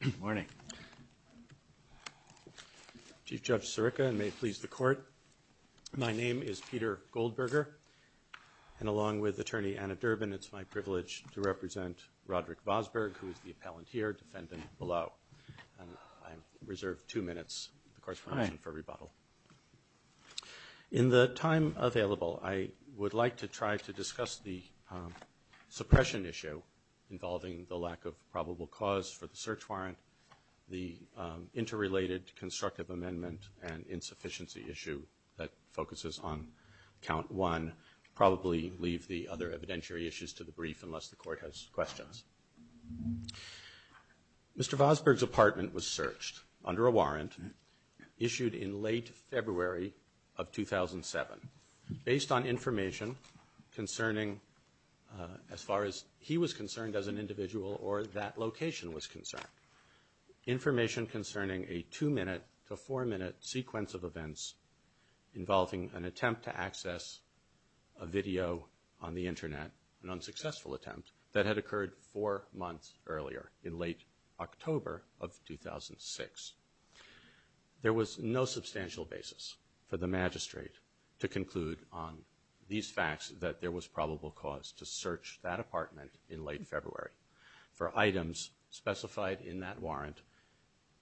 Good morning, Chief Judge Sirica, and may it please the Court. My name is Peter Goldberger, and along with Attorney Anna Durbin, it's my privilege to represent Roderick Vosburgh, who is the appellant here, defendant below. I reserve two minutes for rebuttal. In the time available, I would like to try to discuss the suppression issue involving the lack of probable cause for the search warrant, the interrelated constructive amendment and insufficiency issue that focuses on Count 1, probably leave the other evidentiary issues to the brief unless the Court has questions. Mr. Vosburgh's apartment was searched under a warrant issued in late February of 2007 based on information concerning, as far as he was concerned as an individual or that location was concerned, information concerning a two-minute to four-minute sequence of events involving an attempt to access a video on the Internet, an unsuccessful attempt that had occurred four months earlier in late October of 2006. There was no substantial basis for the magistrate to conclude on these facts that there was probable cause to search that apartment in late February for items specified in that warrant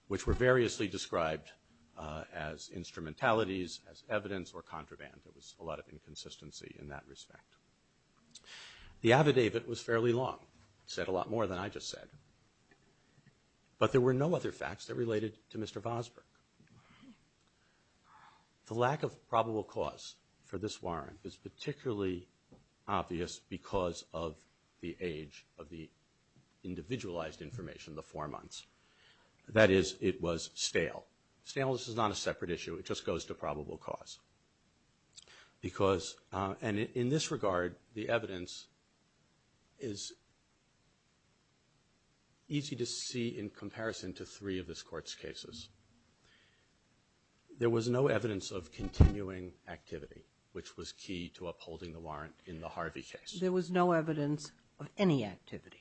which were variously described as instrumentalities, as evidence or contraband. There was a lot of inconsistency in that respect. The affidavit was fairly long, said a lot more than I just said, but there were no other facts that related to Mr. Vosburgh. The lack of probable cause for this warrant is particularly obvious because of the age of the individualized information, the four months. That is, it was stale. Staleness is not a separate issue, it just goes to probable cause. Because, and in this regard, the evidence is easy to see in comparison to three of this Court's cases. There was no evidence of continuing activity which was key to upholding the warrant in the Harvey case. There was no evidence of any activity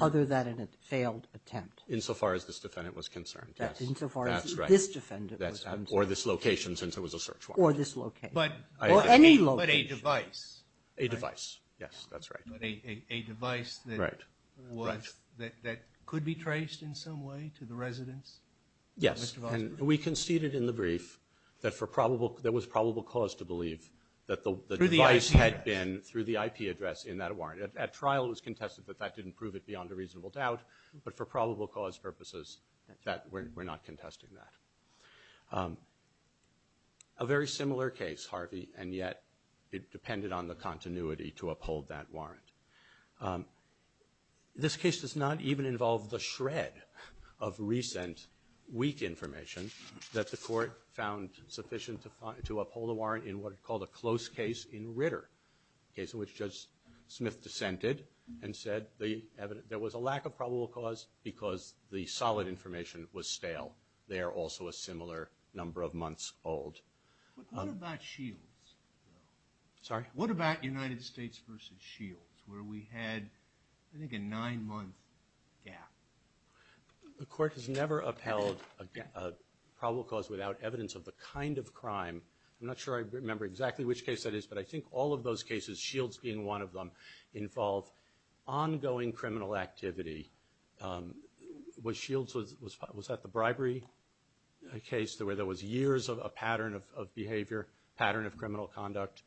other than a failed attempt. Insofar as this defendant was concerned, yes. That's right. Insofar as this defendant was concerned. Or this location, since it was a search warrant. Or this location. Or any location. But a device. A device, yes. That's right. But a device that could be traced in some way to the residents? Yes. And we conceded in the brief that there was probable cause to believe that the device had been through the IP address in that warrant. At trial it was contested that that didn't prove it beyond a reasonable doubt, but for A very similar case, Harvey, and yet it depended on the continuity to uphold that warrant. This case does not even involve the shred of recent weak information that the Court found sufficient to uphold the warrant in what it called a close case in Ritter, a case in which Judge Smith dissented and said there was a lack of probable cause because the solid information was stale. They are also a similar number of months old. What about Shields? Sorry? What about United States v. Shields, where we had, I think, a nine-month gap? The Court has never upheld a probable cause without evidence of the kind of crime. I'm not sure I remember exactly which case that is, but I think all of those cases, Shields being one of them, involve ongoing criminal activity. Was Shields, was that the bribery case where there was years of pattern of behavior, pattern of criminal conduct?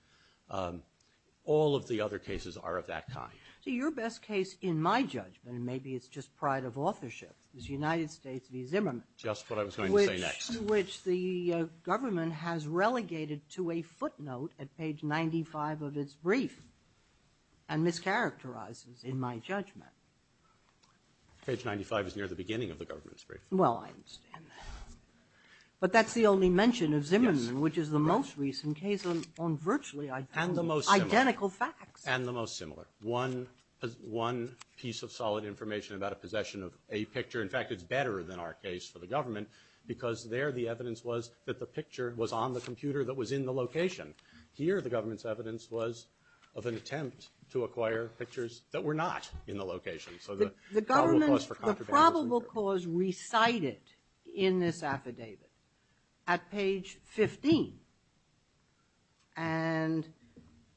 All of the other cases are of that kind. So your best case, in my judgment, and maybe it's just pride of authorship, is United States v. Zimmerman. Just what I was going to say next. Which the government has relegated to a footnote at page 95 of its brief and mischaracterizes, in my judgment. Page 95 is near the beginning of the government's brief. Well, I understand that. But that's the only mention of Zimmerman, which is the most recent case on virtually identical facts. And the most similar. One piece of solid information about a possession of a picture. In fact, it's better than our case for the government because there the evidence was that the picture was on the computer that was in the location. Here the government's evidence was of an attempt to acquire pictures that were not in the location. So the probable cause for contraband was in here. The government, the probable cause recited in this affidavit at page 15. And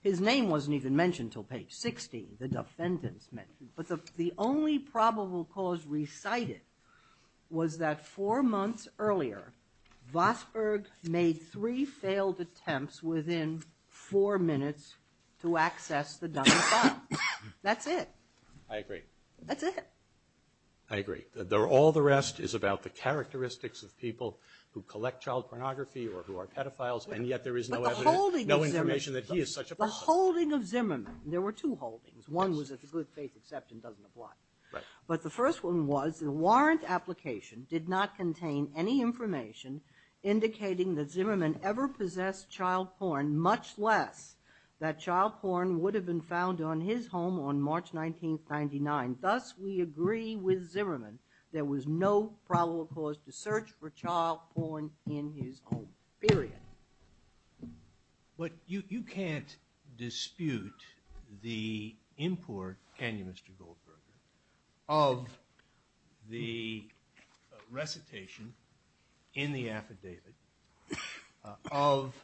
his name wasn't even mentioned until page 60, the defendants mentioned. But the only probable cause recited was that four months earlier, Vosburgh made three failed attempts within four minutes to access the number five. That's it. I agree. That's it. I agree. All the rest is about the characteristics of people who collect child pornography or who are pedophiles, and yet there is no evidence, no information that he is such a person. But the holding of Zimmerman, there were two holdings. One was that the good faith exception doesn't apply. But the first one was the warrant application did not contain any information indicating that Zimmerman ever possessed child porn, much less that child porn would have been found on his home on March 19th, 1999. Thus, we agree with Zimmerman, there was no probable cause to search for child porn in his home. Period. But you can't dispute the import, can you, Mr. Goldberger, of the recitation in the affidavit of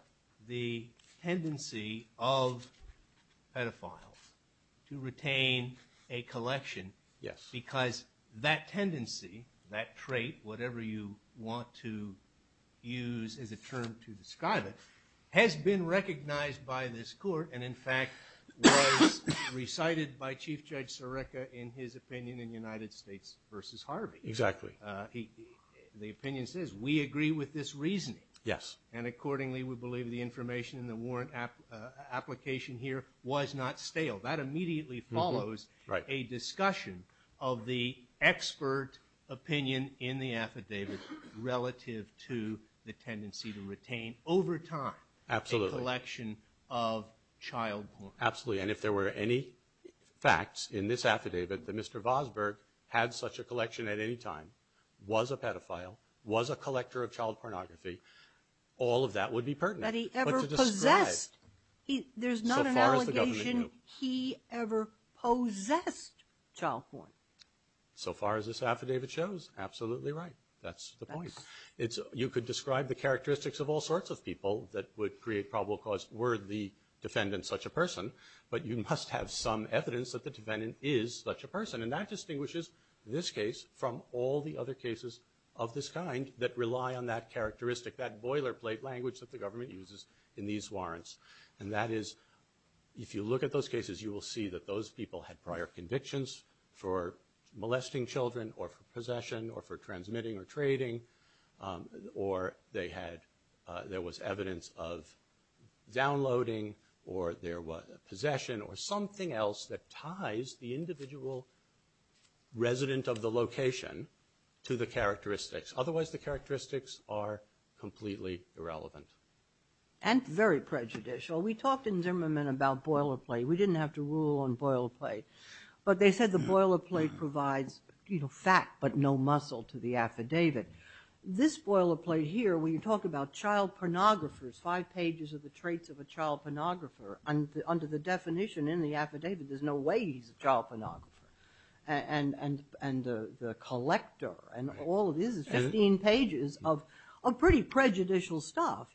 the tendency of pedophiles to retain a collection because that tendency, that trait, whatever you want to use as a term to describe it, has been recognized by this court and in fact was recited by Chief Judge Sarekha in his opinion in United States v. Harvey. Exactly. The opinion says, we agree with this reasoning, and accordingly we believe the information in the warrant application here was not stale. That immediately follows a discussion of the expert opinion in the affidavit relative to the tendency to retain over time a collection of child porn. Absolutely. And if there were any facts in this affidavit that Mr. Vosburgh had such a collection at any time, was a pedophile, was a collector of child pornography, all of that would be pertinent. But to describe... That he ever possessed. There's not an allegation... That he ever possessed child porn. So far as this affidavit shows, absolutely right. That's the point. You could describe the characteristics of all sorts of people that would create probable cause were the defendant such a person, but you must have some evidence that the defendant is such a person, and that distinguishes this case from all the other cases of this kind that rely on that characteristic, that boilerplate language that the government uses in these warrants. And that is, if you look at those cases, you will see that those people had prior convictions for molesting children, or for possession, or for transmitting, or trading, or they had there was evidence of downloading, or there was a possession, or something else that ties the individual resident of the location to the characteristics. Otherwise the characteristics are completely irrelevant. And very prejudicial. We talked in Zimmerman about boilerplate. We didn't have to rule on boilerplate. But they said the boilerplate provides fact, but no muscle to the affidavit. This boilerplate here, when you talk about child pornographers, five pages of the traits of a child pornographer, under the definition in the affidavit, there's no way he's a child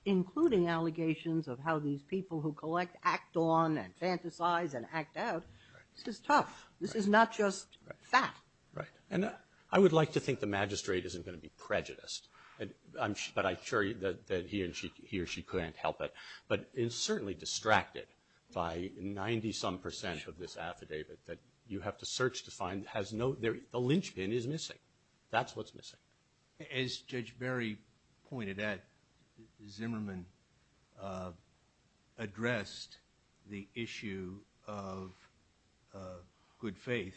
including allegations of how these people who collect act on, and fantasize, and act out. This is tough. This is not just fact. Right. And I would like to think the magistrate isn't going to be prejudiced. But I'm sure that he or she couldn't help it. But it's certainly distracted by 90 some percent of this affidavit that you have to search That's what's missing. As Judge Barry pointed out, Zimmerman addressed the issue of good faith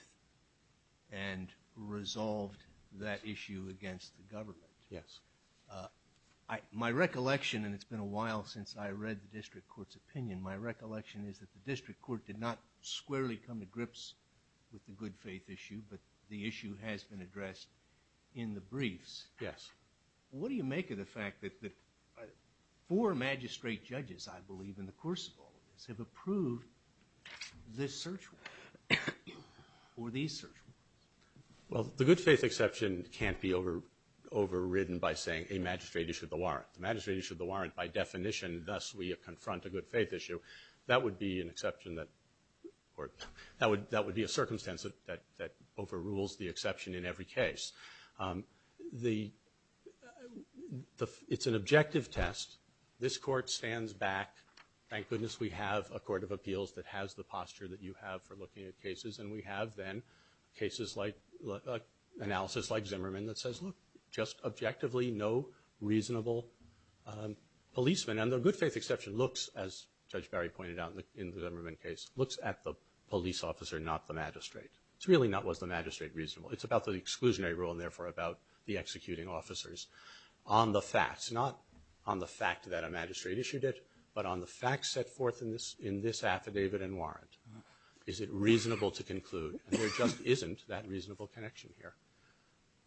and resolved that issue against the government. My recollection, and it's been a while since I read the district court's opinion, my recollection is that the district court did not squarely come to grips with the good faith issue, but the issue has been addressed in the briefs. Yes. What do you make of the fact that four magistrate judges, I believe, in the course of all of this have approved this search warrant, or these search warrants? Well, the good faith exception can't be overridden by saying a magistrate issued the warrant. The magistrate issued the warrant by definition, thus we confront a good faith issue. That would be an exception that, or that would be a circumstance that overrules the exception in every case. It's an objective test. This court stands back, thank goodness we have a court of appeals that has the posture that you have for looking at cases, and we have then cases like, analysis like Zimmerman that says, look, just objectively, no reasonable policeman. And the good faith exception looks, as Judge Barry pointed out in the Zimmerman case, looks at the police officer, not the magistrate. It's really not, was the magistrate reasonable? It's about the exclusionary rule, and therefore about the executing officers. On the facts, not on the fact that a magistrate issued it, but on the facts set forth in this affidavit and warrant, is it reasonable to conclude, and there just isn't that reasonable connection here.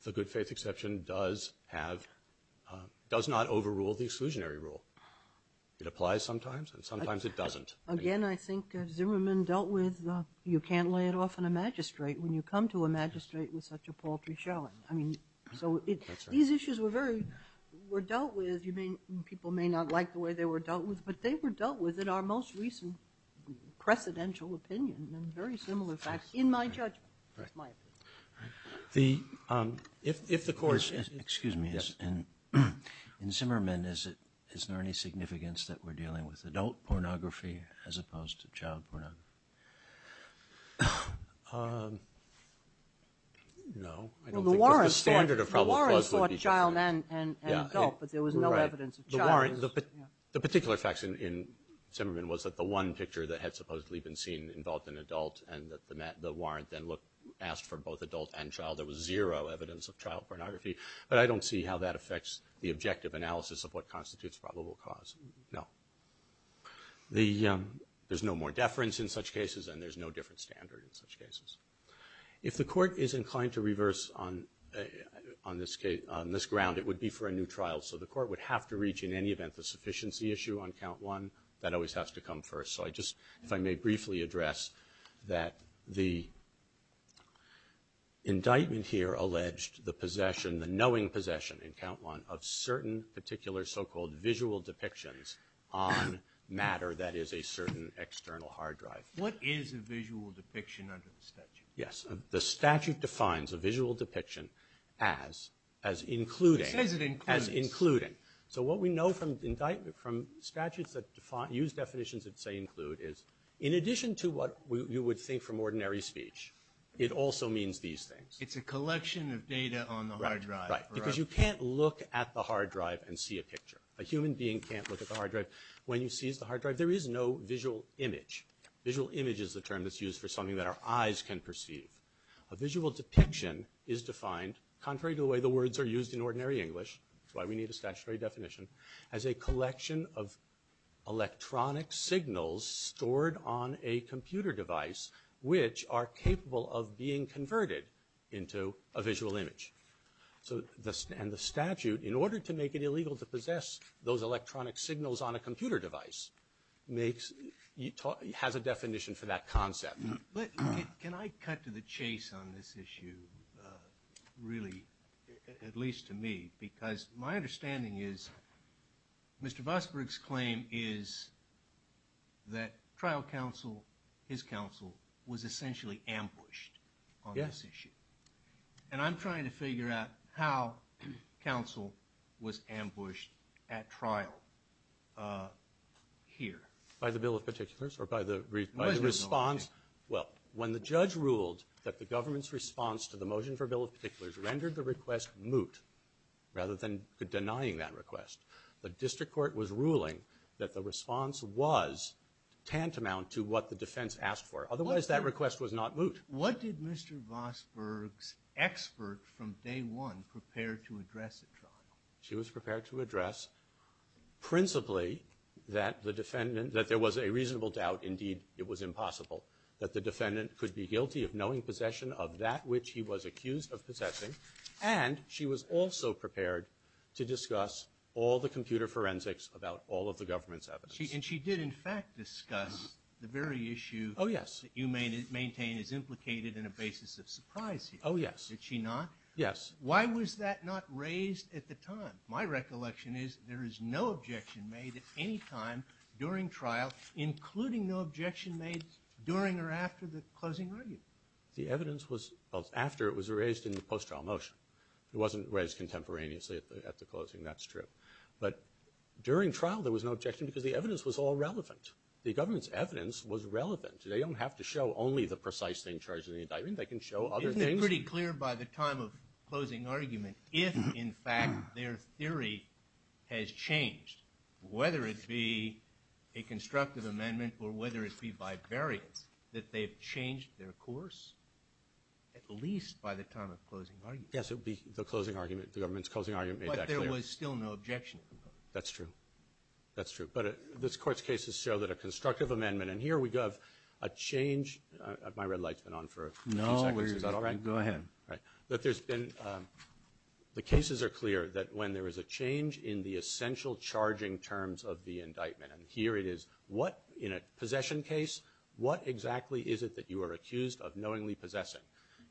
The good faith exception does have, does not overrule the exclusionary rule. It applies sometimes, and sometimes it doesn't. Again, I think Zimmerman dealt with, you can't lay it off on a magistrate when you come to a magistrate with such a paltry showing. I mean, so it, these issues were very, were dealt with, you may, people may not like the way they were dealt with, but they were dealt with in our most recent precedential opinion, and very similar facts in my judgment, is my opinion. The, if the court, excuse me, in Zimmerman, is it, is there any significance that we're dealing with adult pornography as opposed to child pornography? No, I don't think that the standard of probable cause would be, the warrant, the particular facts in Zimmerman was that the one picture that had supposedly been seen involved an adult and child, there was zero evidence of child pornography, but I don't see how that affects the objective analysis of what constitutes probable cause, no. The, there's no more deference in such cases, and there's no different standard in such cases. If the court is inclined to reverse on, on this case, on this ground, it would be for a new trial, so the court would have to reach, in any event, the sufficiency issue on count one. That always has to come first, so I just, if I may briefly address that the indictment here alleged the possession, the knowing possession, in count one, of certain particular so-called visual depictions on matter that is a certain external hard drive. What is a visual depiction under the statute? Yes, the statute defines a visual depiction as, as including, as including, so what we know from indictment, from statutes that define, use definitions that say include is, in addition to what you would think from ordinary speech, it also means these things. It's a collection of data on the hard drive. Right, right. Because you can't look at the hard drive and see a picture. A human being can't look at the hard drive. When you seize the hard drive, there is no visual image. Visual image is the term that's used for something that our eyes can perceive. A visual depiction is defined, contrary to the way the words are used in ordinary English, that's why we need a statutory definition, as a collection of electronic signals stored on a computer device which are capable of being converted into a visual image. So the, and the statute, in order to make it illegal to possess those electronic signals on a computer device, makes, has a definition for that concept. But, can I cut to the chase on this issue, really, at least to me, because my understanding is Mr. Vosburgh's claim is that trial counsel, his counsel, was essentially ambushed on this issue. Yes. And I'm trying to figure out how counsel was ambushed at trial here. By the bill of particulars? Or by the response? By the response. Well, when the judge ruled that the government's response to the motion for bill of particulars rendered the request moot, rather than denying that request, the district court was ruling that the response was tantamount to what the defense asked for. Otherwise, that request was not moot. What did Mr. Vosburgh's expert from day one prepare to address at trial? She was prepared to address, principally, that the defendant, that there was a reasonable doubt, indeed, it was impossible, that the defendant could be guilty of knowing possession of that which he was accused of possessing. And she was also prepared to discuss all the computer forensics about all of the government's evidence. And she did, in fact, discuss the very issue that you maintain is implicated in a basis of surprise here. Oh, yes. Did she not? Yes. Why was that not raised at the time? My recollection is there is no objection made at any time during trial, including no objection made during or after the closing argument. The evidence was, well, after it was raised in the post-trial motion. It wasn't raised contemporaneously at the closing, that's true. But during trial, there was no objection because the evidence was all relevant. The government's evidence was relevant. They don't have to show only the precise thing charged in the indictment. They can show other things. It would be pretty clear by the time of closing argument if, in fact, their theory has changed, whether it be a constructive amendment or whether it be bivariate, that they've changed their course at least by the time of closing argument. Yes. It would be the closing argument, the government's closing argument made that clear. But there was still no objection. That's true. That's true. But this Court's cases show that a constructive amendment, and here we have a change, my red light's been on for a few seconds. Is that all right? Go ahead. All right. But there's been, the cases are clear that when there is a change in the essential charging terms of the indictment, and here it is, what, in a possession case, what exactly is it that you are accused of knowingly possessing?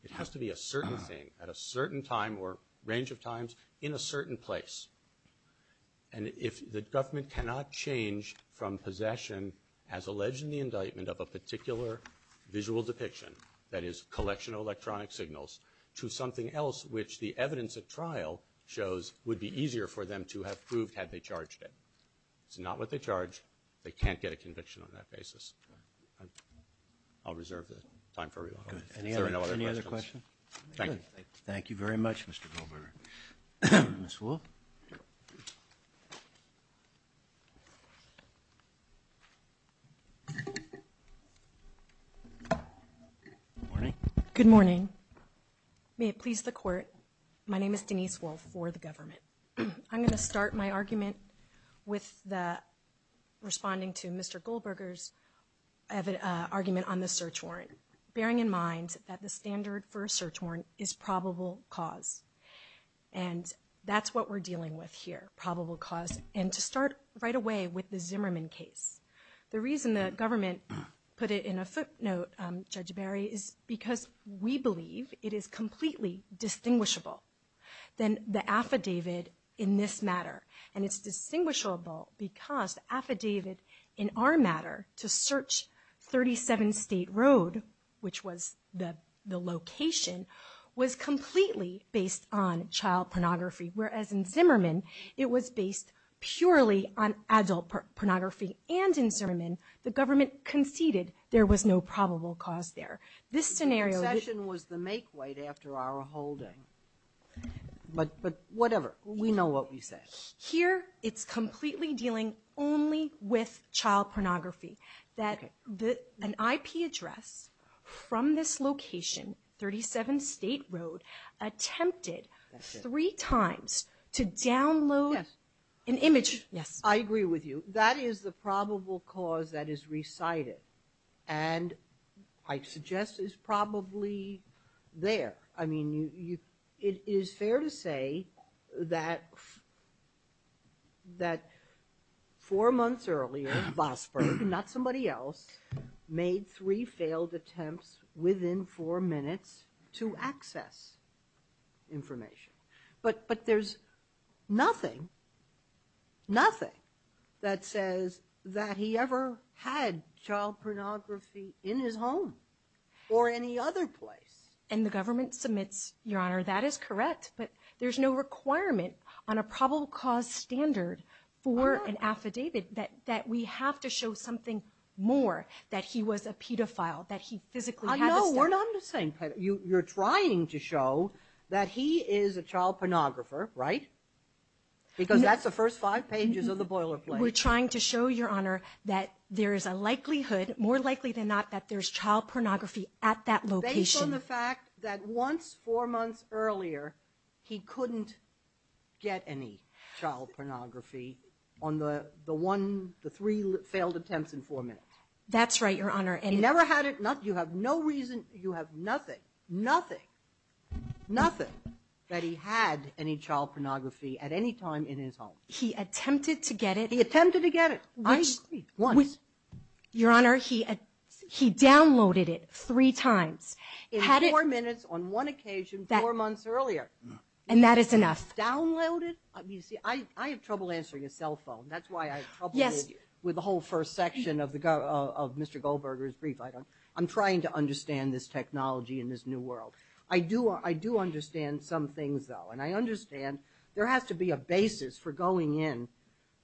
It has to be a certain thing at a certain time or range of times in a certain place. And if the government cannot change from possession as alleged in the indictment of a particular visual depiction, that is, collection of electronic signals, to something else which the evidence at trial shows would be easier for them to have proved had they charged it. It's not what they charged. They can't get a conviction on that basis. I'll reserve the time for rebuttal. Is there any other questions? Good. Any other questions? Thank you. Thank you. Thank you very much, Mr. Goldberger. Ms. Wolff? Thank you. Good morning. Good morning. May it please the Court, my name is Denise Wolff for the government. I'm going to start my argument with the, responding to Mr. Goldberger's argument on the search warrant, bearing in mind that the standard for a search warrant is probable cause. And that's what we're dealing with here, probable cause. And to start right away with the Zimmerman case. The reason the government put it in a footnote, Judge Barry, is because we believe it is completely distinguishable than the affidavit in this matter. And it's distinguishable because the affidavit in our matter to search 37 State Road, which was the location, was completely based on child pornography. Whereas in Zimmerman, it was based purely on adult pornography. And in Zimmerman, the government conceded there was no probable cause there. This scenario- The concession was the make weight after our holding. But whatever. We know what we said. Here it's completely dealing only with child pornography. That an IP address from this location, 37 State Road, attempted three times to download an image- Yes. I agree with you. That is the probable cause that is recited. And I suggest it's probably there. I mean, it is fair to say that four months earlier, Bosberg, not somebody else, made three failed attempts within four minutes to access information. But there's nothing, nothing that says that he ever had child pornography in his home or any other place. And the government submits, Your Honor, that is correct, but there's no requirement on a probable cause standard for an affidavit that we have to show something more. That he was a pedophile. That he physically- No, we're not saying pedophile. You're trying to show that he is a child pornographer, right? Because that's the first five pages of the boilerplate. We're trying to show, Your Honor, that there is a likelihood, more likely than not, that there's child pornography at that location. Based on the fact that once, four months earlier, he couldn't get any child pornography on the one, the three failed attempts in four minutes. That's right, Your Honor. He never had it. You have no reason, you have nothing, nothing, nothing that he had any child pornography at any time in his home. He attempted to get it. He attempted to get it. I agree. Once. Your Honor, he downloaded it three times. Had it- In four minutes, on one occasion, four months earlier. And that is enough. Downloaded? You see, I have trouble answering a cell phone. That's why I have trouble with the whole first section of Mr. Goldberger's brief. I'm trying to understand this technology in this new world. I do understand some things, though, and I understand there has to be a basis for going in.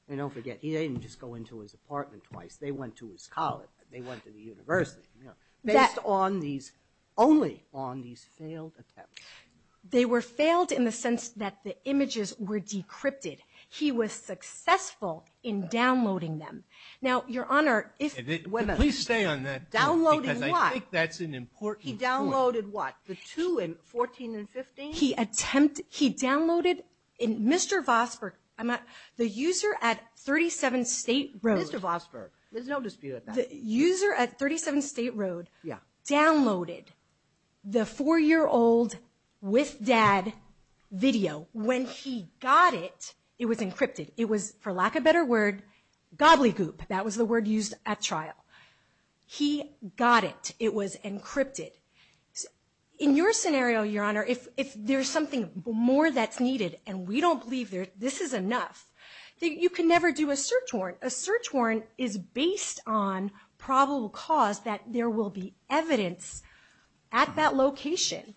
And don't forget, he didn't just go into his apartment twice. They went to his college. They went to the university, you know, based on these, only on these failed attempts. They were failed in the sense that the images were decrypted. He was successful in downloading them. Now Your Honor, if- Please stay on that. Downloading what? Because I think that's an important point. He downloaded what, the two in 14 and 15? He attempted, he downloaded, Mr. Vosburgh, the user at 37 State Road- There's no dispute about that. The user at 37 State Road downloaded the four-year-old with dad video. When he got it, it was encrypted. It was, for lack of a better word, gobbly goop. That was the word used at trial. He got it. It was encrypted. In your scenario, Your Honor, if there's something more that's needed and we don't believe this is enough, you can never do a search warrant. A search warrant is based on probable cause that there will be evidence at that location.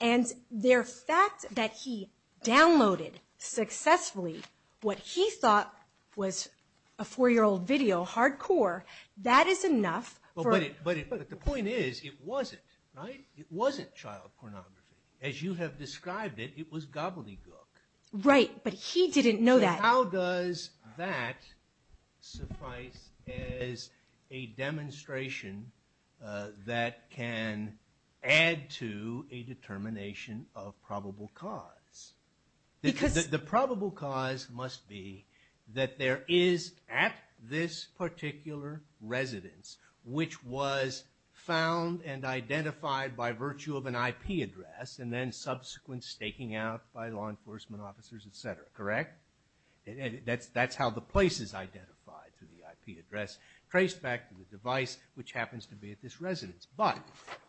And the fact that he downloaded successfully what he thought was a four-year-old video, hardcore, that is enough for- But the point is, it wasn't, right? It wasn't child pornography. As you have described it, it was gobbly gook. Right, but he didn't know that. How does that suffice as a demonstration that can add to a determination of probable cause? The probable cause must be that there is at this particular residence, which was found and identified by virtue of an IP address and then subsequent staking out by law enforcement officers, et cetera, correct? That's how the place is identified, through the IP address traced back to the device, which happens to be at this residence. But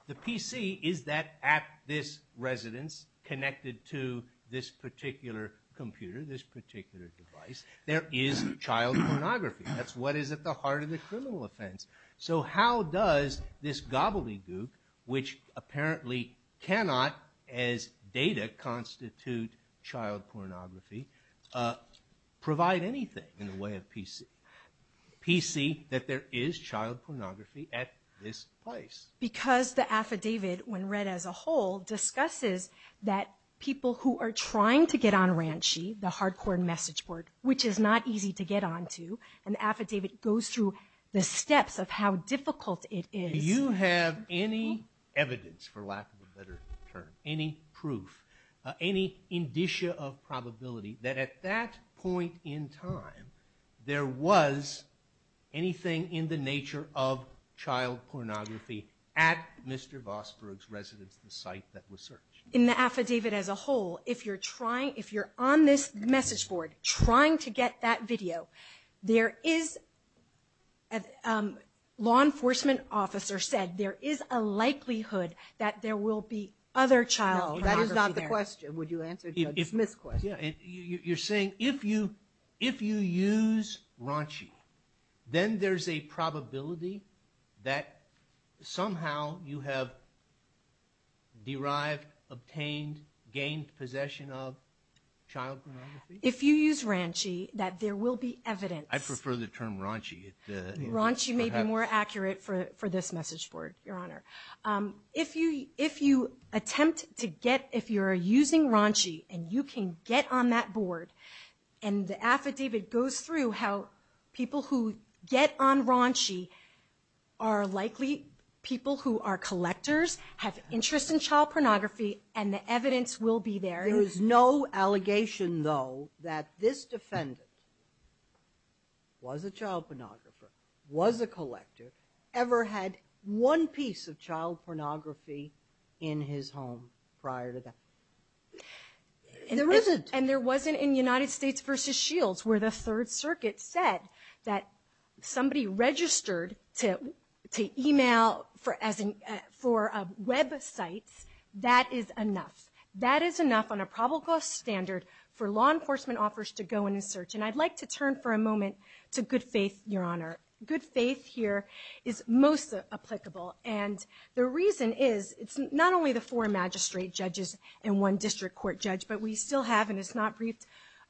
the PC is that at this residence, connected to this particular computer, this particular device. There is child pornography. That's what is at the heart of the criminal offense. So how does this gobbly gook, which apparently cannot as data constitute child pornography, provide anything in the way of PC, that there is child pornography at this place? Because the affidavit, when read as a whole, discusses that people who are trying to get on Ranchi, the hardcore message board, which is not easy to get onto, and the affidavit goes through the steps of how difficult it is. Do you have any evidence, for lack of a better term, any proof, any indicia of probability that at that point in time, there was anything in the nature of child pornography at Mr. Vosburgh's residence, the site that was searched? In the affidavit as a whole, if you're trying, if you're on this message board trying to get that video, there is, a law enforcement officer said there is a likelihood that there will be other child pornography there. That is not the question. Would you answer Judge Smith's question? You're saying if you use Ranchi, then there's a probability that somehow you have derived, obtained, gained possession of child pornography? If you use Ranchi, that there will be evidence. I prefer the term Ranchi. Ranchi may be more accurate for this message board, Your Honor. If you attempt to get, if you're using Ranchi, and you can get on that board, and the affidavit goes through how people who get on Ranchi are likely people who are collectors, have interest in child pornography, and the evidence will be there. There is no allegation, though, that this defendant was a child pornographer, was a collector, ever had one piece of child pornography in his home prior to that. There isn't. And there wasn't in United States v. Shields, where the Third Circuit said that somebody registered to email for websites, that is enough. That is enough on a probable cost standard for law enforcement offers to go in and search. And I'd like to turn for a moment to Good Faith, Your Honor. Good Faith here is most applicable. And the reason is, it's not only the four magistrate judges and one district court judge, but we still have, and it's not briefed,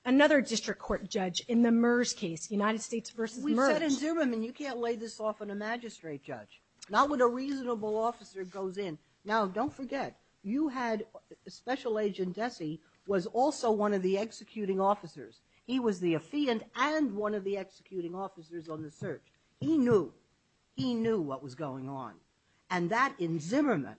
another district court judge in the MERS case, United States v. MERS. We've said in Zubin, you can't lay this off on a magistrate judge. Not when a reasonable officer goes in. Now, don't forget, you had Special Agent Dessy was also one of the executing officers. He was the affiant and one of the executing officers on the search. He knew. He knew what was going on. And that, in Zimmerman,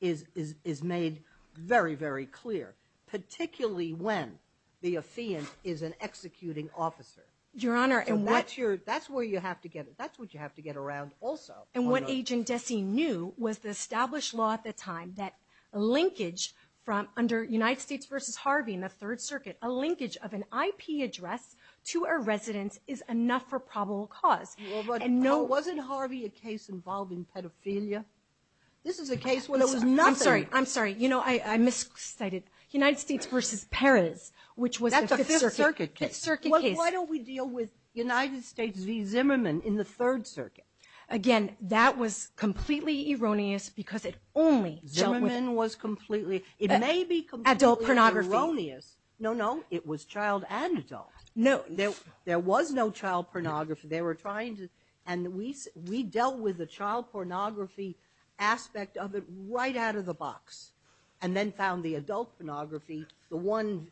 is made very, very clear, particularly when the affiant is an executing officer. Your Honor, and what- That's where you have to get, that's what you have to get around also. And what Agent Dessy knew was the established law at the time that linkage from, under United States v. Harvey in the Third Circuit, a linkage of an IP address to a residence is enough for probable cause. And no- Well, wasn't Harvey a case involving pedophilia? This is a case where there was nothing- I'm sorry. I'm sorry. You know, I miscited. United States v. Perez, which was the Fifth Circuit case. That's a Fifth Circuit case. Fifth Circuit case. Why don't we deal with United States v. Zimmerman in the Third Circuit? Again, that was completely erroneous because it only dealt with- Zimmerman was completely- Adult pornography. It may be completely erroneous. No, no. It was child and adult. There was no child pornography. They were trying to, and we dealt with the child pornography aspect of it right out of the box. And then found the adult pornography, the one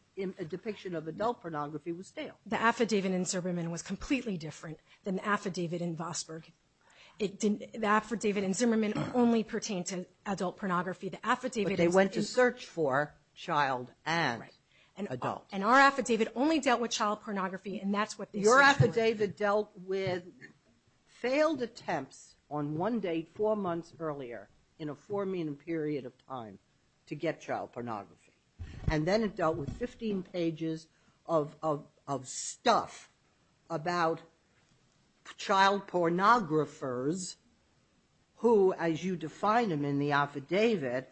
depiction of adult pornography was stale. The affidavit in Zimmerman was completely different than the affidavit in Vosburgh. It didn't- The affidavit in Zimmerman only pertained to adult pornography. The affidavit- But they went to search for child and adult. And our affidavit only dealt with child pornography, and that's what they searched for. Your affidavit dealt with failed attempts on one date four months earlier in a four minute period of time to get child pornography. And then it dealt with 15 pages of stuff about child pornographers who, as you define them in the affidavit,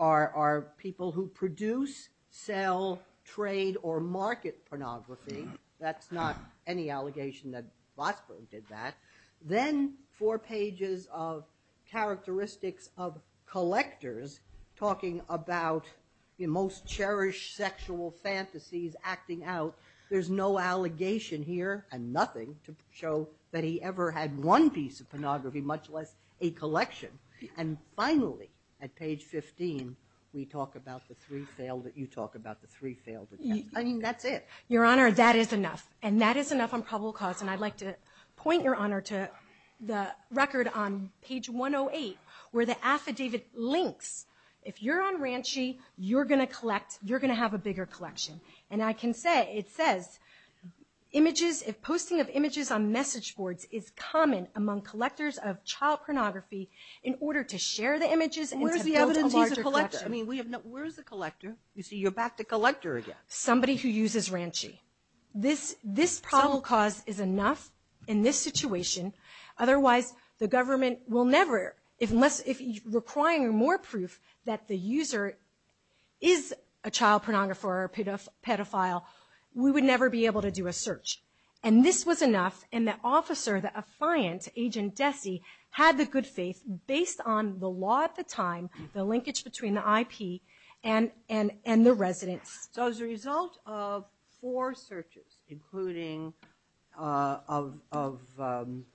are people who produce, sell, trade, or market pornography. That's not any allegation that Vosburgh did that. Then four pages of characteristics of collectors talking about most cherished sexual fantasies acting out. There's no allegation here, and nothing to show that he ever had one piece of pornography, much less a collection. And finally, at page 15, we talk about the three failed, you talk about the three failed attempts. I mean, that's it. Your Honor, that is enough. And that is enough on probable cause. And I'd like to point, Your Honor, to the record on page 108 where the affidavit links. If you're on Ranchi, you're going to collect, you're going to have a bigger collection. And I can say, it says, images, if posting of images on message boards is common among collectors of child pornography in order to share the images and to build a larger collection. Where's the evidence he's a collector? I mean, where is the collector? You see, you're back to collector again. Somebody who uses Ranchi. This probable cause is enough in this situation. Otherwise, the government will never, if requiring more proof that the user is a child pornographer or pedophile, we would never be able to do a search. And this was enough, and the officer, the affiant, Agent Desi, had the good faith, based on the law at the time, the linkage between the IP and the residents. So as a result of four searches, including of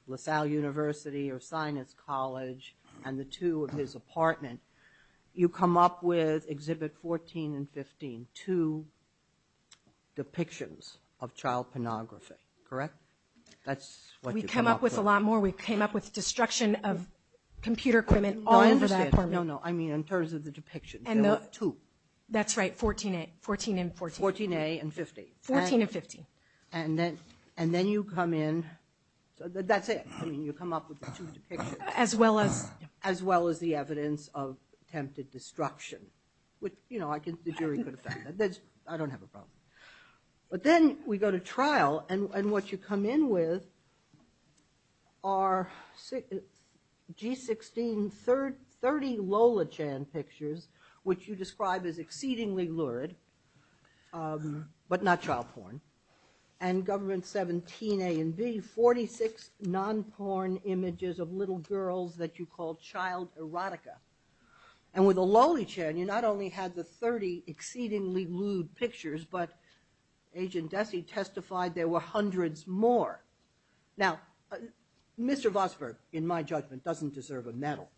LaSalle University or Sinus College and the two of his apartment, you come up with, Exhibit 14 and 15, two depictions of child pornography, correct? That's what you come up with. We came up with a lot more. We came up with destruction of computer equipment, all over that apartment. No, no, I mean in terms of the depictions, there were two. That's right, 14A, 14 and 14. 14A and 15. 14 and 15. And then you come in, that's it, I mean you come up with the two depictions. As well as? As well as the evidence of attempted destruction, which, you know, the jury could defend that. But then we go to trial, and what you come in with are G16, 30 Lola Chan pictures, which you describe as exceedingly lurid, but not child porn. And Government 17A and B, 46 non-porn images of little girls that you call child erotica. And with Lola Chan, you not only had the 30 exceedingly lewd pictures, but Agent Dessy testified there were hundreds more. Now Mr. Vosburgh, in my judgment, doesn't deserve a medal,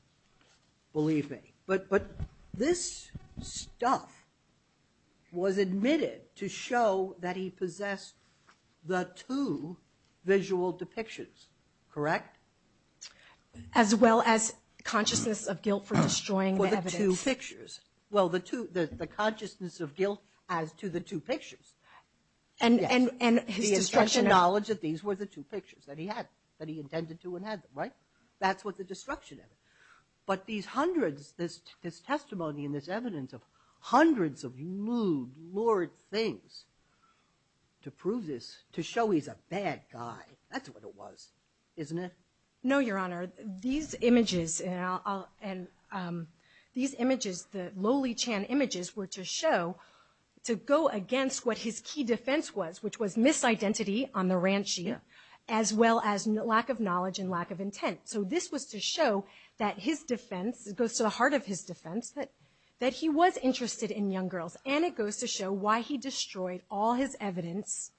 believe me. But this stuff was admitted to show that he possessed the two visual depictions, correct? As well as consciousness of guilt for destroying the evidence. For the two pictures. Well the consciousness of guilt as to the two pictures. And his destruction of- The knowledge that these were the two pictures that he had, that he intended to and had them, right? That's what the destruction of it. But these hundreds, this testimony and this evidence of hundreds of lewd, lurid things, to prove this, to show he's a bad guy, that's what it was, isn't it? No Your Honor, these images, these images, the Lola Chan images were to show, to go against what his key defense was, which was misidentity on the ranch sheet, as well as lack of knowledge and lack of intent. So this was to show that his defense, it goes to the heart of his defense, that he was interested in young girls. And it goes to show why he destroyed all his evidence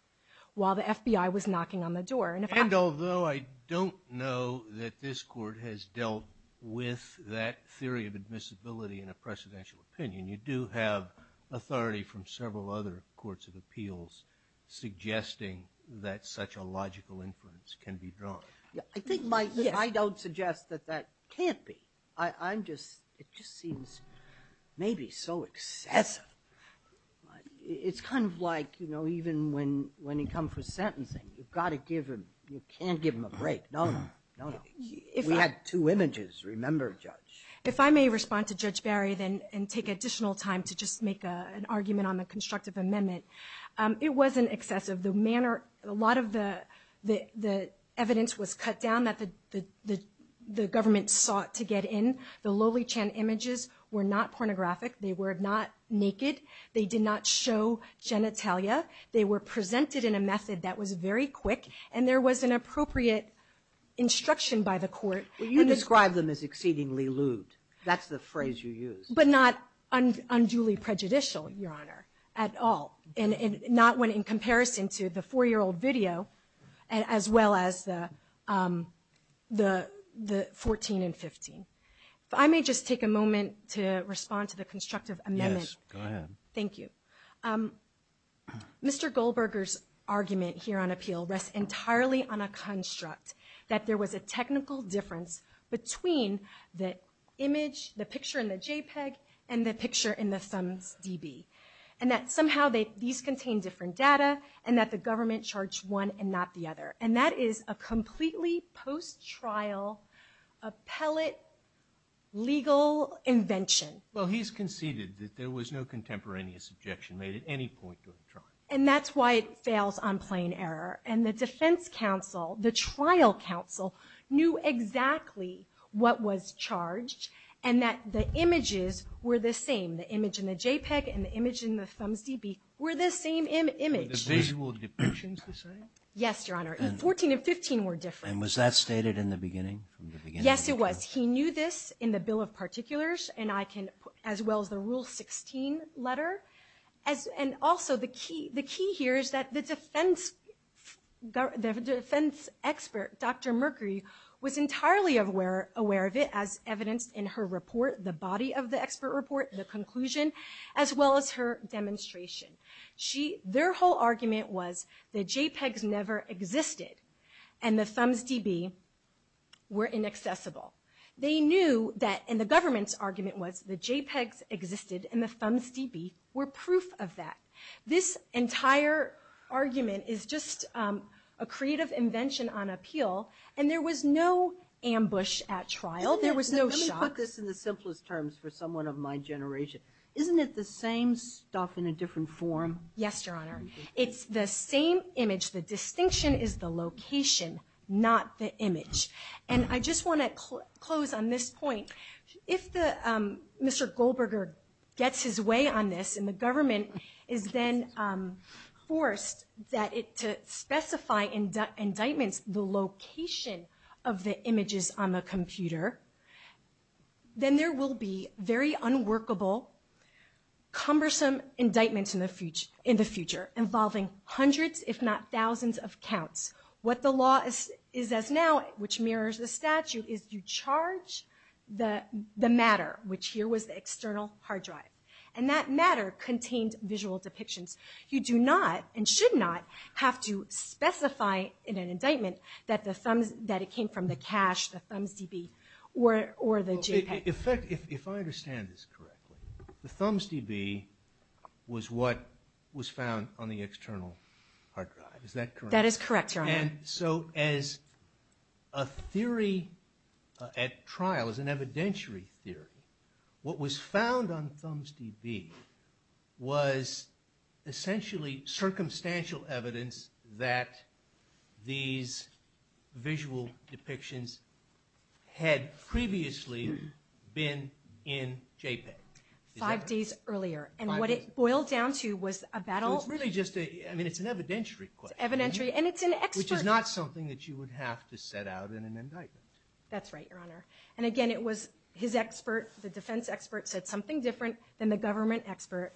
while the FBI was knocking on the door. And although I don't know that this court has dealt with that theory of admissibility in a presidential opinion, you do have authority from several other courts of appeals suggesting that such a logical inference can be drawn. I think my, I don't suggest that that can't be. I'm just, it just seems maybe so excessive. It's kind of like, you know, even when you come for sentencing, you've got to give him, you can't give him a break. No, no, no. We had two images, remember Judge. If I may respond to Judge Barry, then, and take additional time to just make an argument on the constructive amendment. It wasn't excessive. The manner, a lot of the evidence was cut down that the government sought to get in. The lowly Chan images were not pornographic. They were not naked. They did not show genitalia. They were presented in a method that was very quick, and there was an appropriate instruction by the court. Well, you described them as exceedingly lewd. That's the phrase you used. But not unduly prejudicial, Your Honor, at all. And not when in comparison to the four-year-old video, as well as the 14 and 15. If I may just take a moment to respond to the constructive amendment. Yes, go ahead. Thank you. Mr. Goldberger's argument here on appeal rests entirely on a construct that there was a technical difference between the image, the picture in the JPEG, and the picture in the ThumbsDB. And that somehow these contain different data, and that the government charged one and not the other. And that is a completely post-trial appellate legal invention. Well, he's conceded that there was no contemporaneous objection made at any point during the trial. And that's why it fails on plain error. And the defense counsel, the trial counsel, knew exactly what was charged, and that the image in the ThumbsDB were the same image. Were the visual depictions the same? Yes, Your Honor. The 14 and 15 were different. And was that stated in the beginning, from the beginning? Yes, it was. He knew this in the Bill of Particulars, as well as the Rule 16 letter. And also the key here is that the defense expert, Dr. Mercury, was entirely aware of it as evidenced in her report, the body of the expert report, the conclusion, as well as her demonstration. Their whole argument was the JPEGs never existed, and the ThumbsDB were inaccessible. They knew that, and the government's argument was the JPEGs existed, and the ThumbsDB were proof of that. This entire argument is just a creative invention on appeal. And there was no ambush at trial. There was no shock. Let me put this in the simplest terms for someone of my generation. Isn't it the same stuff in a different form? Yes, Your Honor. It's the same image. The distinction is the location, not the image. And I just want to close on this point. If Mr. Goldberger gets his way on this, and the government is then forced to specify in indictments the location of the images on the computer, then there will be very unworkable, cumbersome indictments in the future involving hundreds, if not thousands, of counts. What the law is as now, which mirrors the statute, is you charge the matter, which here was the external hard drive. And that matter contained visual depictions. You do not, and should not, have to specify in an indictment that it came from the cache, the ThumbsDB, or the JPEG. If I understand this correctly, the ThumbsDB was what was found on the external hard drive. Is that correct? That is correct, Your Honor. And so as a theory at trial, as an evidentiary theory, what was found on ThumbsDB was essentially circumstantial evidence that these visual depictions had previously been in JPEG. Five days earlier. And what it boiled down to was a battle- So it's really just a, I mean, it's an evidentiary question. Evidentiary, and it's an expert- Which is not something that you would have to set out in an indictment. That's right, Your Honor. And again, it was his expert, the defense expert, said something different than the government expert.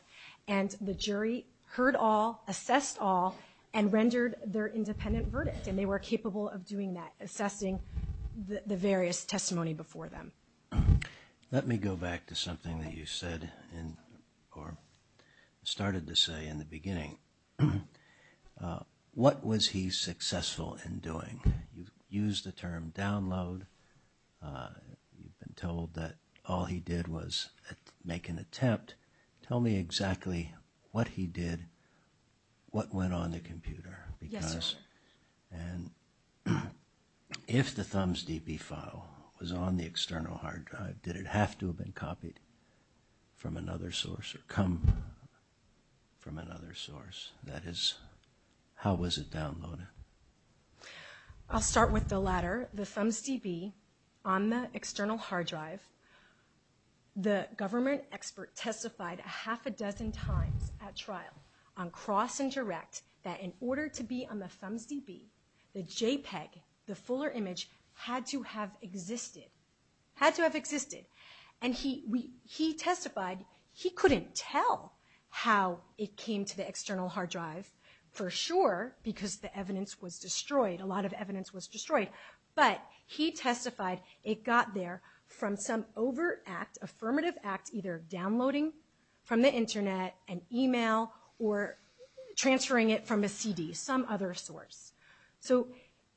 And the jury heard all, assessed all, and rendered their independent verdict. And they were capable of doing that, assessing the various testimony before them. Let me go back to something that you said in, or started to say in the beginning. What was he successful in doing? You've used the term download, you've been told that all he did was make an attempt. Tell me exactly what he did, what went on the computer, because, and if the ThumbsDB file was on the external hard drive, did it have to have been copied from another source or come from another source? That is, how was it downloaded? I'll start with the latter. The ThumbsDB on the external hard drive, the government expert testified a half a dozen times at trial on cross and direct that in order to be on the ThumbsDB, the JPEG, the JPEG had to have existed, had to have existed. And he testified, he couldn't tell how it came to the external hard drive for sure because the evidence was destroyed, a lot of evidence was destroyed, but he testified it got there from some over-act, affirmative act, either downloading from the internet, an email, or transferring it from a CD, some other source. So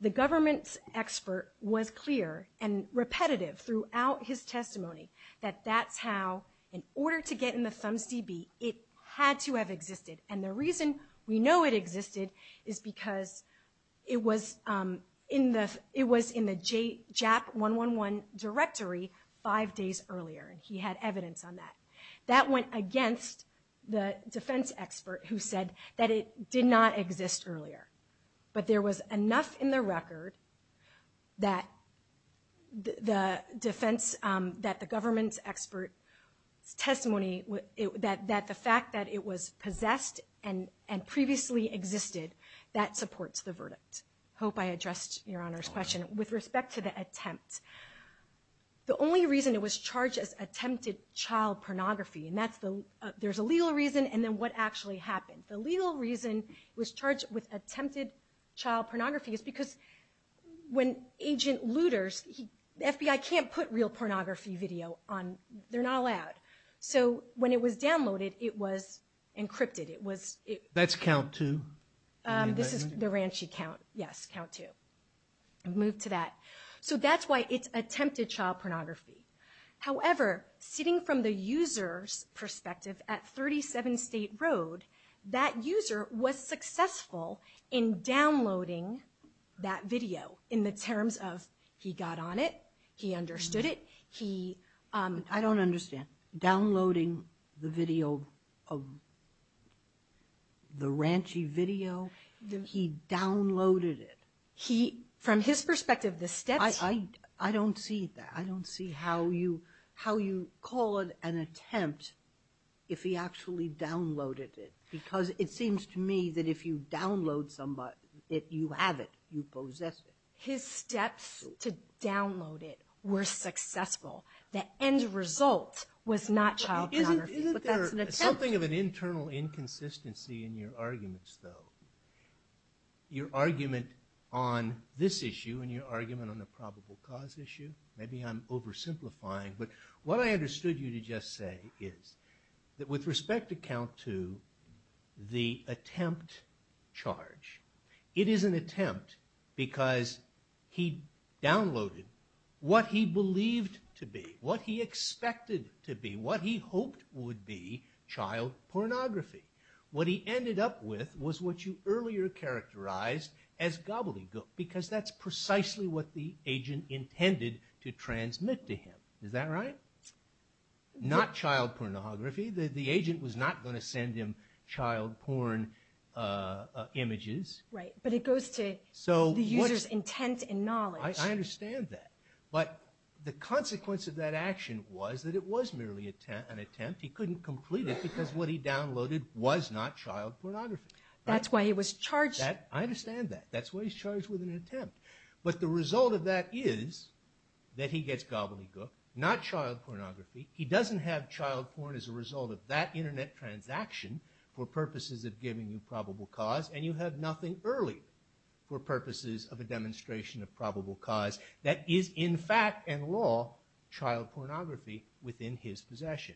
the government expert was clear and repetitive throughout his testimony that that's how, in order to get in the ThumbsDB, it had to have existed. And the reason we know it existed is because it was in the JAP111 directory five days earlier, and he had evidence on that. That went against the defense expert who said that it did not exist earlier. But there was enough in the record that the defense, that the government expert's testimony, that the fact that it was possessed and previously existed, that supports the verdict. Hope I addressed Your Honor's question. With respect to the attempt, the only reason it was charged as attempted child pornography, and that's the, there's a legal reason, and then what actually happened. The legal reason it was charged with attempted child pornography is because when agent looters, the FBI can't put real pornography video on, they're not allowed. So when it was downloaded, it was encrypted, it was. That's count two? This is the Ranchi count, yes, count two. Move to that. So that's why it's attempted child pornography. However, sitting from the user's perspective at 37 State Road, that user was successful in downloading that video in the terms of he got on it, he understood it, he. I don't understand. Downloading the video, the Ranchi video, he downloaded it. He, from his perspective, the steps. I don't see that. I don't see how you call it an attempt if he actually downloaded it. Because it seems to me that if you download somebody, you have it, you possess it. His steps to download it were successful. The end result was not child pornography, but that's an attempt. Isn't there something of an internal inconsistency in your arguments though? Your argument on this issue and your argument on the probable cause issue? Maybe I'm oversimplifying, but what I understood you to just say is that with respect to count two, the attempt charge, it is an attempt because he downloaded what he believed to be, what he expected to be, what he hoped would be child pornography. What he ended up with was what you earlier characterized as gobbledygook because that's precisely what the agent intended to transmit to him. Is that right? Not child pornography. The agent was not going to send him child porn images. Right, but it goes to the user's intent and knowledge. I understand that. But the consequence of that action was that it was merely an attempt. He couldn't complete it because what he downloaded was not child pornography. That's why he was charged. I understand that. That's why he's charged with an attempt. But the result of that is that he gets gobbledygook, not child pornography. He doesn't have child porn as a result of that internet transaction for purposes of giving you probable cause and you have nothing early for purposes of a demonstration of probable cause that is in fact and law child pornography within his possession.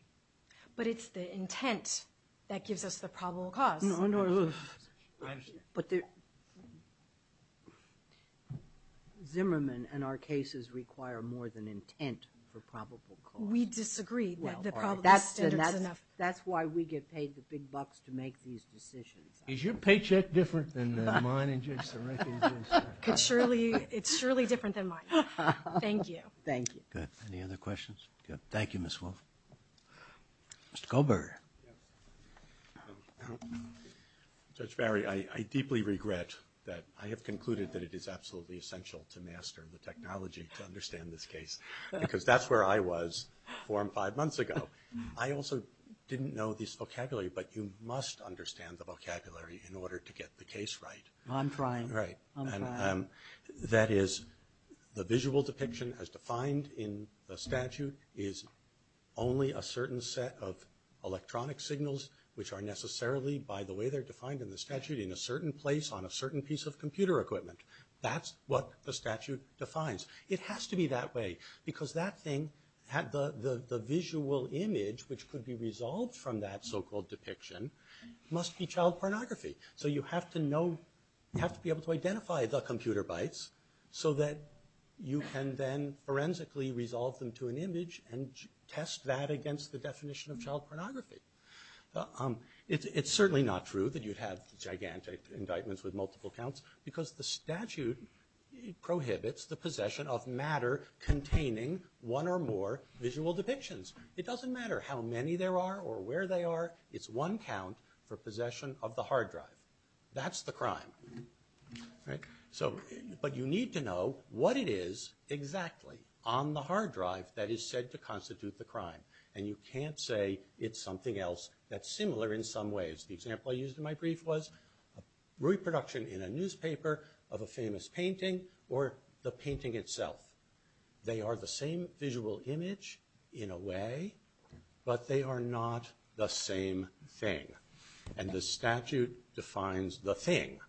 But it's the intent that gives us the probable cause. No, no, no. I understand. But Zimmerman and our cases require more than intent for probable cause. We disagree that the probable standard is enough. That's why we get paid the big bucks to make these decisions. Is your paycheck different than mine and Judge Sarekhi's? It's surely different than mine. Thank you. Thank you. Good. Any other questions? Thank you, Ms. Wolfe. Mr. Goldberger. Yes. Judge Barry, I deeply regret that I have concluded that it is absolutely essential to master the technology to understand this case because that's where I was four and five months ago. I also didn't know this vocabulary, but you must understand the vocabulary in order to get the case right. I'm trying. Right. I'm trying. That is, the visual depiction as defined in the statute is only a certain set of electronic signals which are necessarily, by the way they're defined in the statute, in a certain place on a certain piece of computer equipment. That's what the statute defines. It has to be that way because that thing, the visual image which could be resolved from that so-called depiction, must be child pornography. So you have to know, have to be able to identify the computer bytes so that you can then forensically resolve them to an image and test that against the definition of child pornography. It's certainly not true that you'd have gigantic indictments with multiple counts because the statute prohibits the possession of matter containing one or more visual depictions. It doesn't matter how many there are or where they are. It's one count for possession of the hard drive. That's the crime. Right. So, but you need to know what it is exactly on the hard drive that is said to constitute the crime. And you can't say it's something else that's similar in some ways. The example I used in my brief was reproduction in a newspaper of a famous painting or the painting itself. They are the same visual image in a way, but they are not the same thing. And the statute defines the thing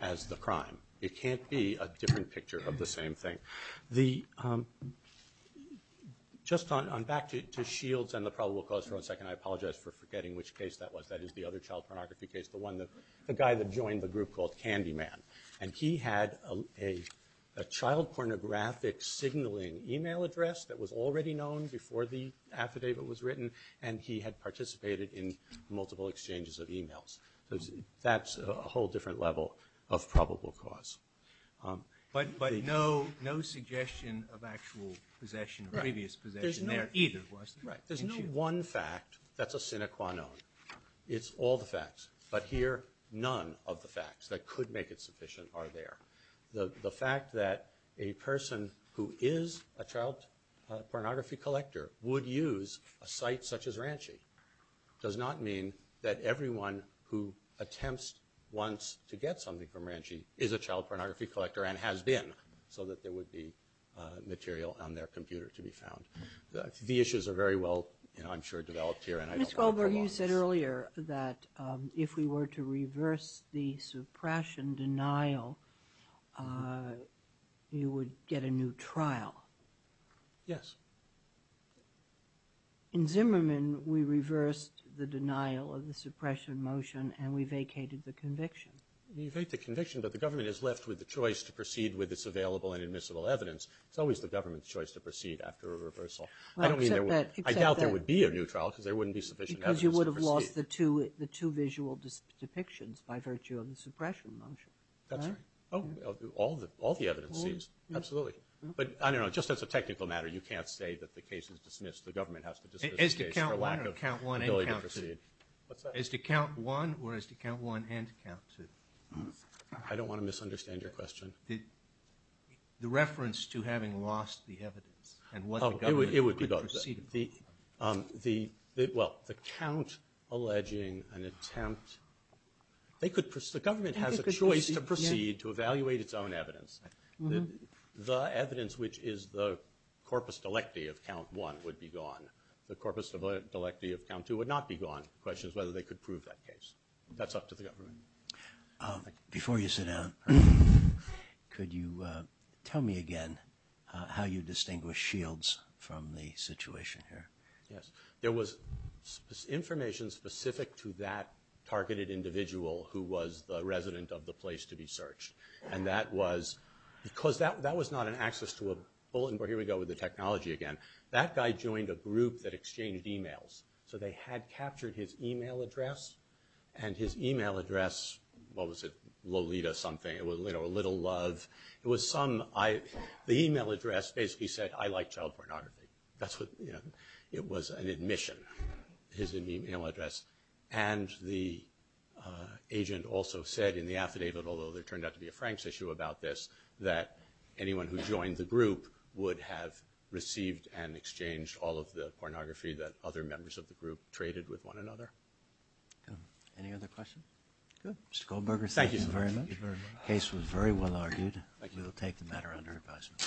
as the crime. It can't be a different picture of the same thing. The, just on back to Shields and the probable cause for one second, I apologize for forgetting which case that was. That is the other child pornography case, the one that, the guy that joined the group called Candyman. And he had a child pornographic signaling email address that was already known before the affidavit was written. And he had participated in multiple exchanges of emails. So, that's a whole different level of probable cause. But, but no, no suggestion of actual possession or previous possession there either, was there? Right. There's no one fact that's a sine qua non. It's all the facts. But here, none of the facts that could make it sufficient are there. The, the fact that a person who is a child pornography collector would use a site such as Ranchi. Does not mean that everyone who attempts once to get something from Ranchi is a child pornography collector and has been, so that there would be material on their computer to be found. The issues are very well, you know, I'm sure, developed here. Ms. Goldberg, you said earlier that if we were to reverse the suppression denial, you would get a new trial. Yes. In Zimmerman, we reversed the denial of the suppression motion, and we vacated the conviction. You vacate the conviction, but the government is left with the choice to proceed with its available and admissible evidence. It's always the government's choice to proceed after a reversal. I don't mean that. I doubt there would be a new trial, because there wouldn't be sufficient evidence to proceed. Because you would have lost the two, the two visual depictions by virtue of the suppression motion. That's right. Oh, all the, all the evidence seized. Absolutely. But, I don't know, just as a technical matter, you can't say that the case is dismissed. The government has to dismiss the case for lack of ability to proceed. As to count one, or as to count one and count two? I don't want to misunderstand your question. The reference to having lost the evidence and what the government could proceed with. The, well, the count alleging an attempt, they could, the government has a choice to proceed to evaluate its own evidence. The evidence which is the corpus delecti of count one would be gone. The corpus delecti of count two would not be gone. The question is whether they could prove that case. That's up to the government. Before you sit down, could you tell me again how you distinguish shields from the situation here? Yes. There was information specific to that targeted individual who was the resident of the place to be searched. And that was, because that, that was not an access to a bulletin board. Here we go with the technology again. That guy joined a group that exchanged emails. So they had captured his email address. And his email address, what was it? Lolita something. It was, you know, a little love. It was some, I, the email address basically said, I like child pornography. That's what, you know, it was an admission, his email address. And the agent also said in the affidavit, although there turned out to be a Frank's issue about this, that anyone who joined the group would have received and exchanged all of the pornography that other members of the group traded with one another. Any other questions? Good. Mr. Goldberger, thank you very much. Case was very well argued. We will take the matter under advisement.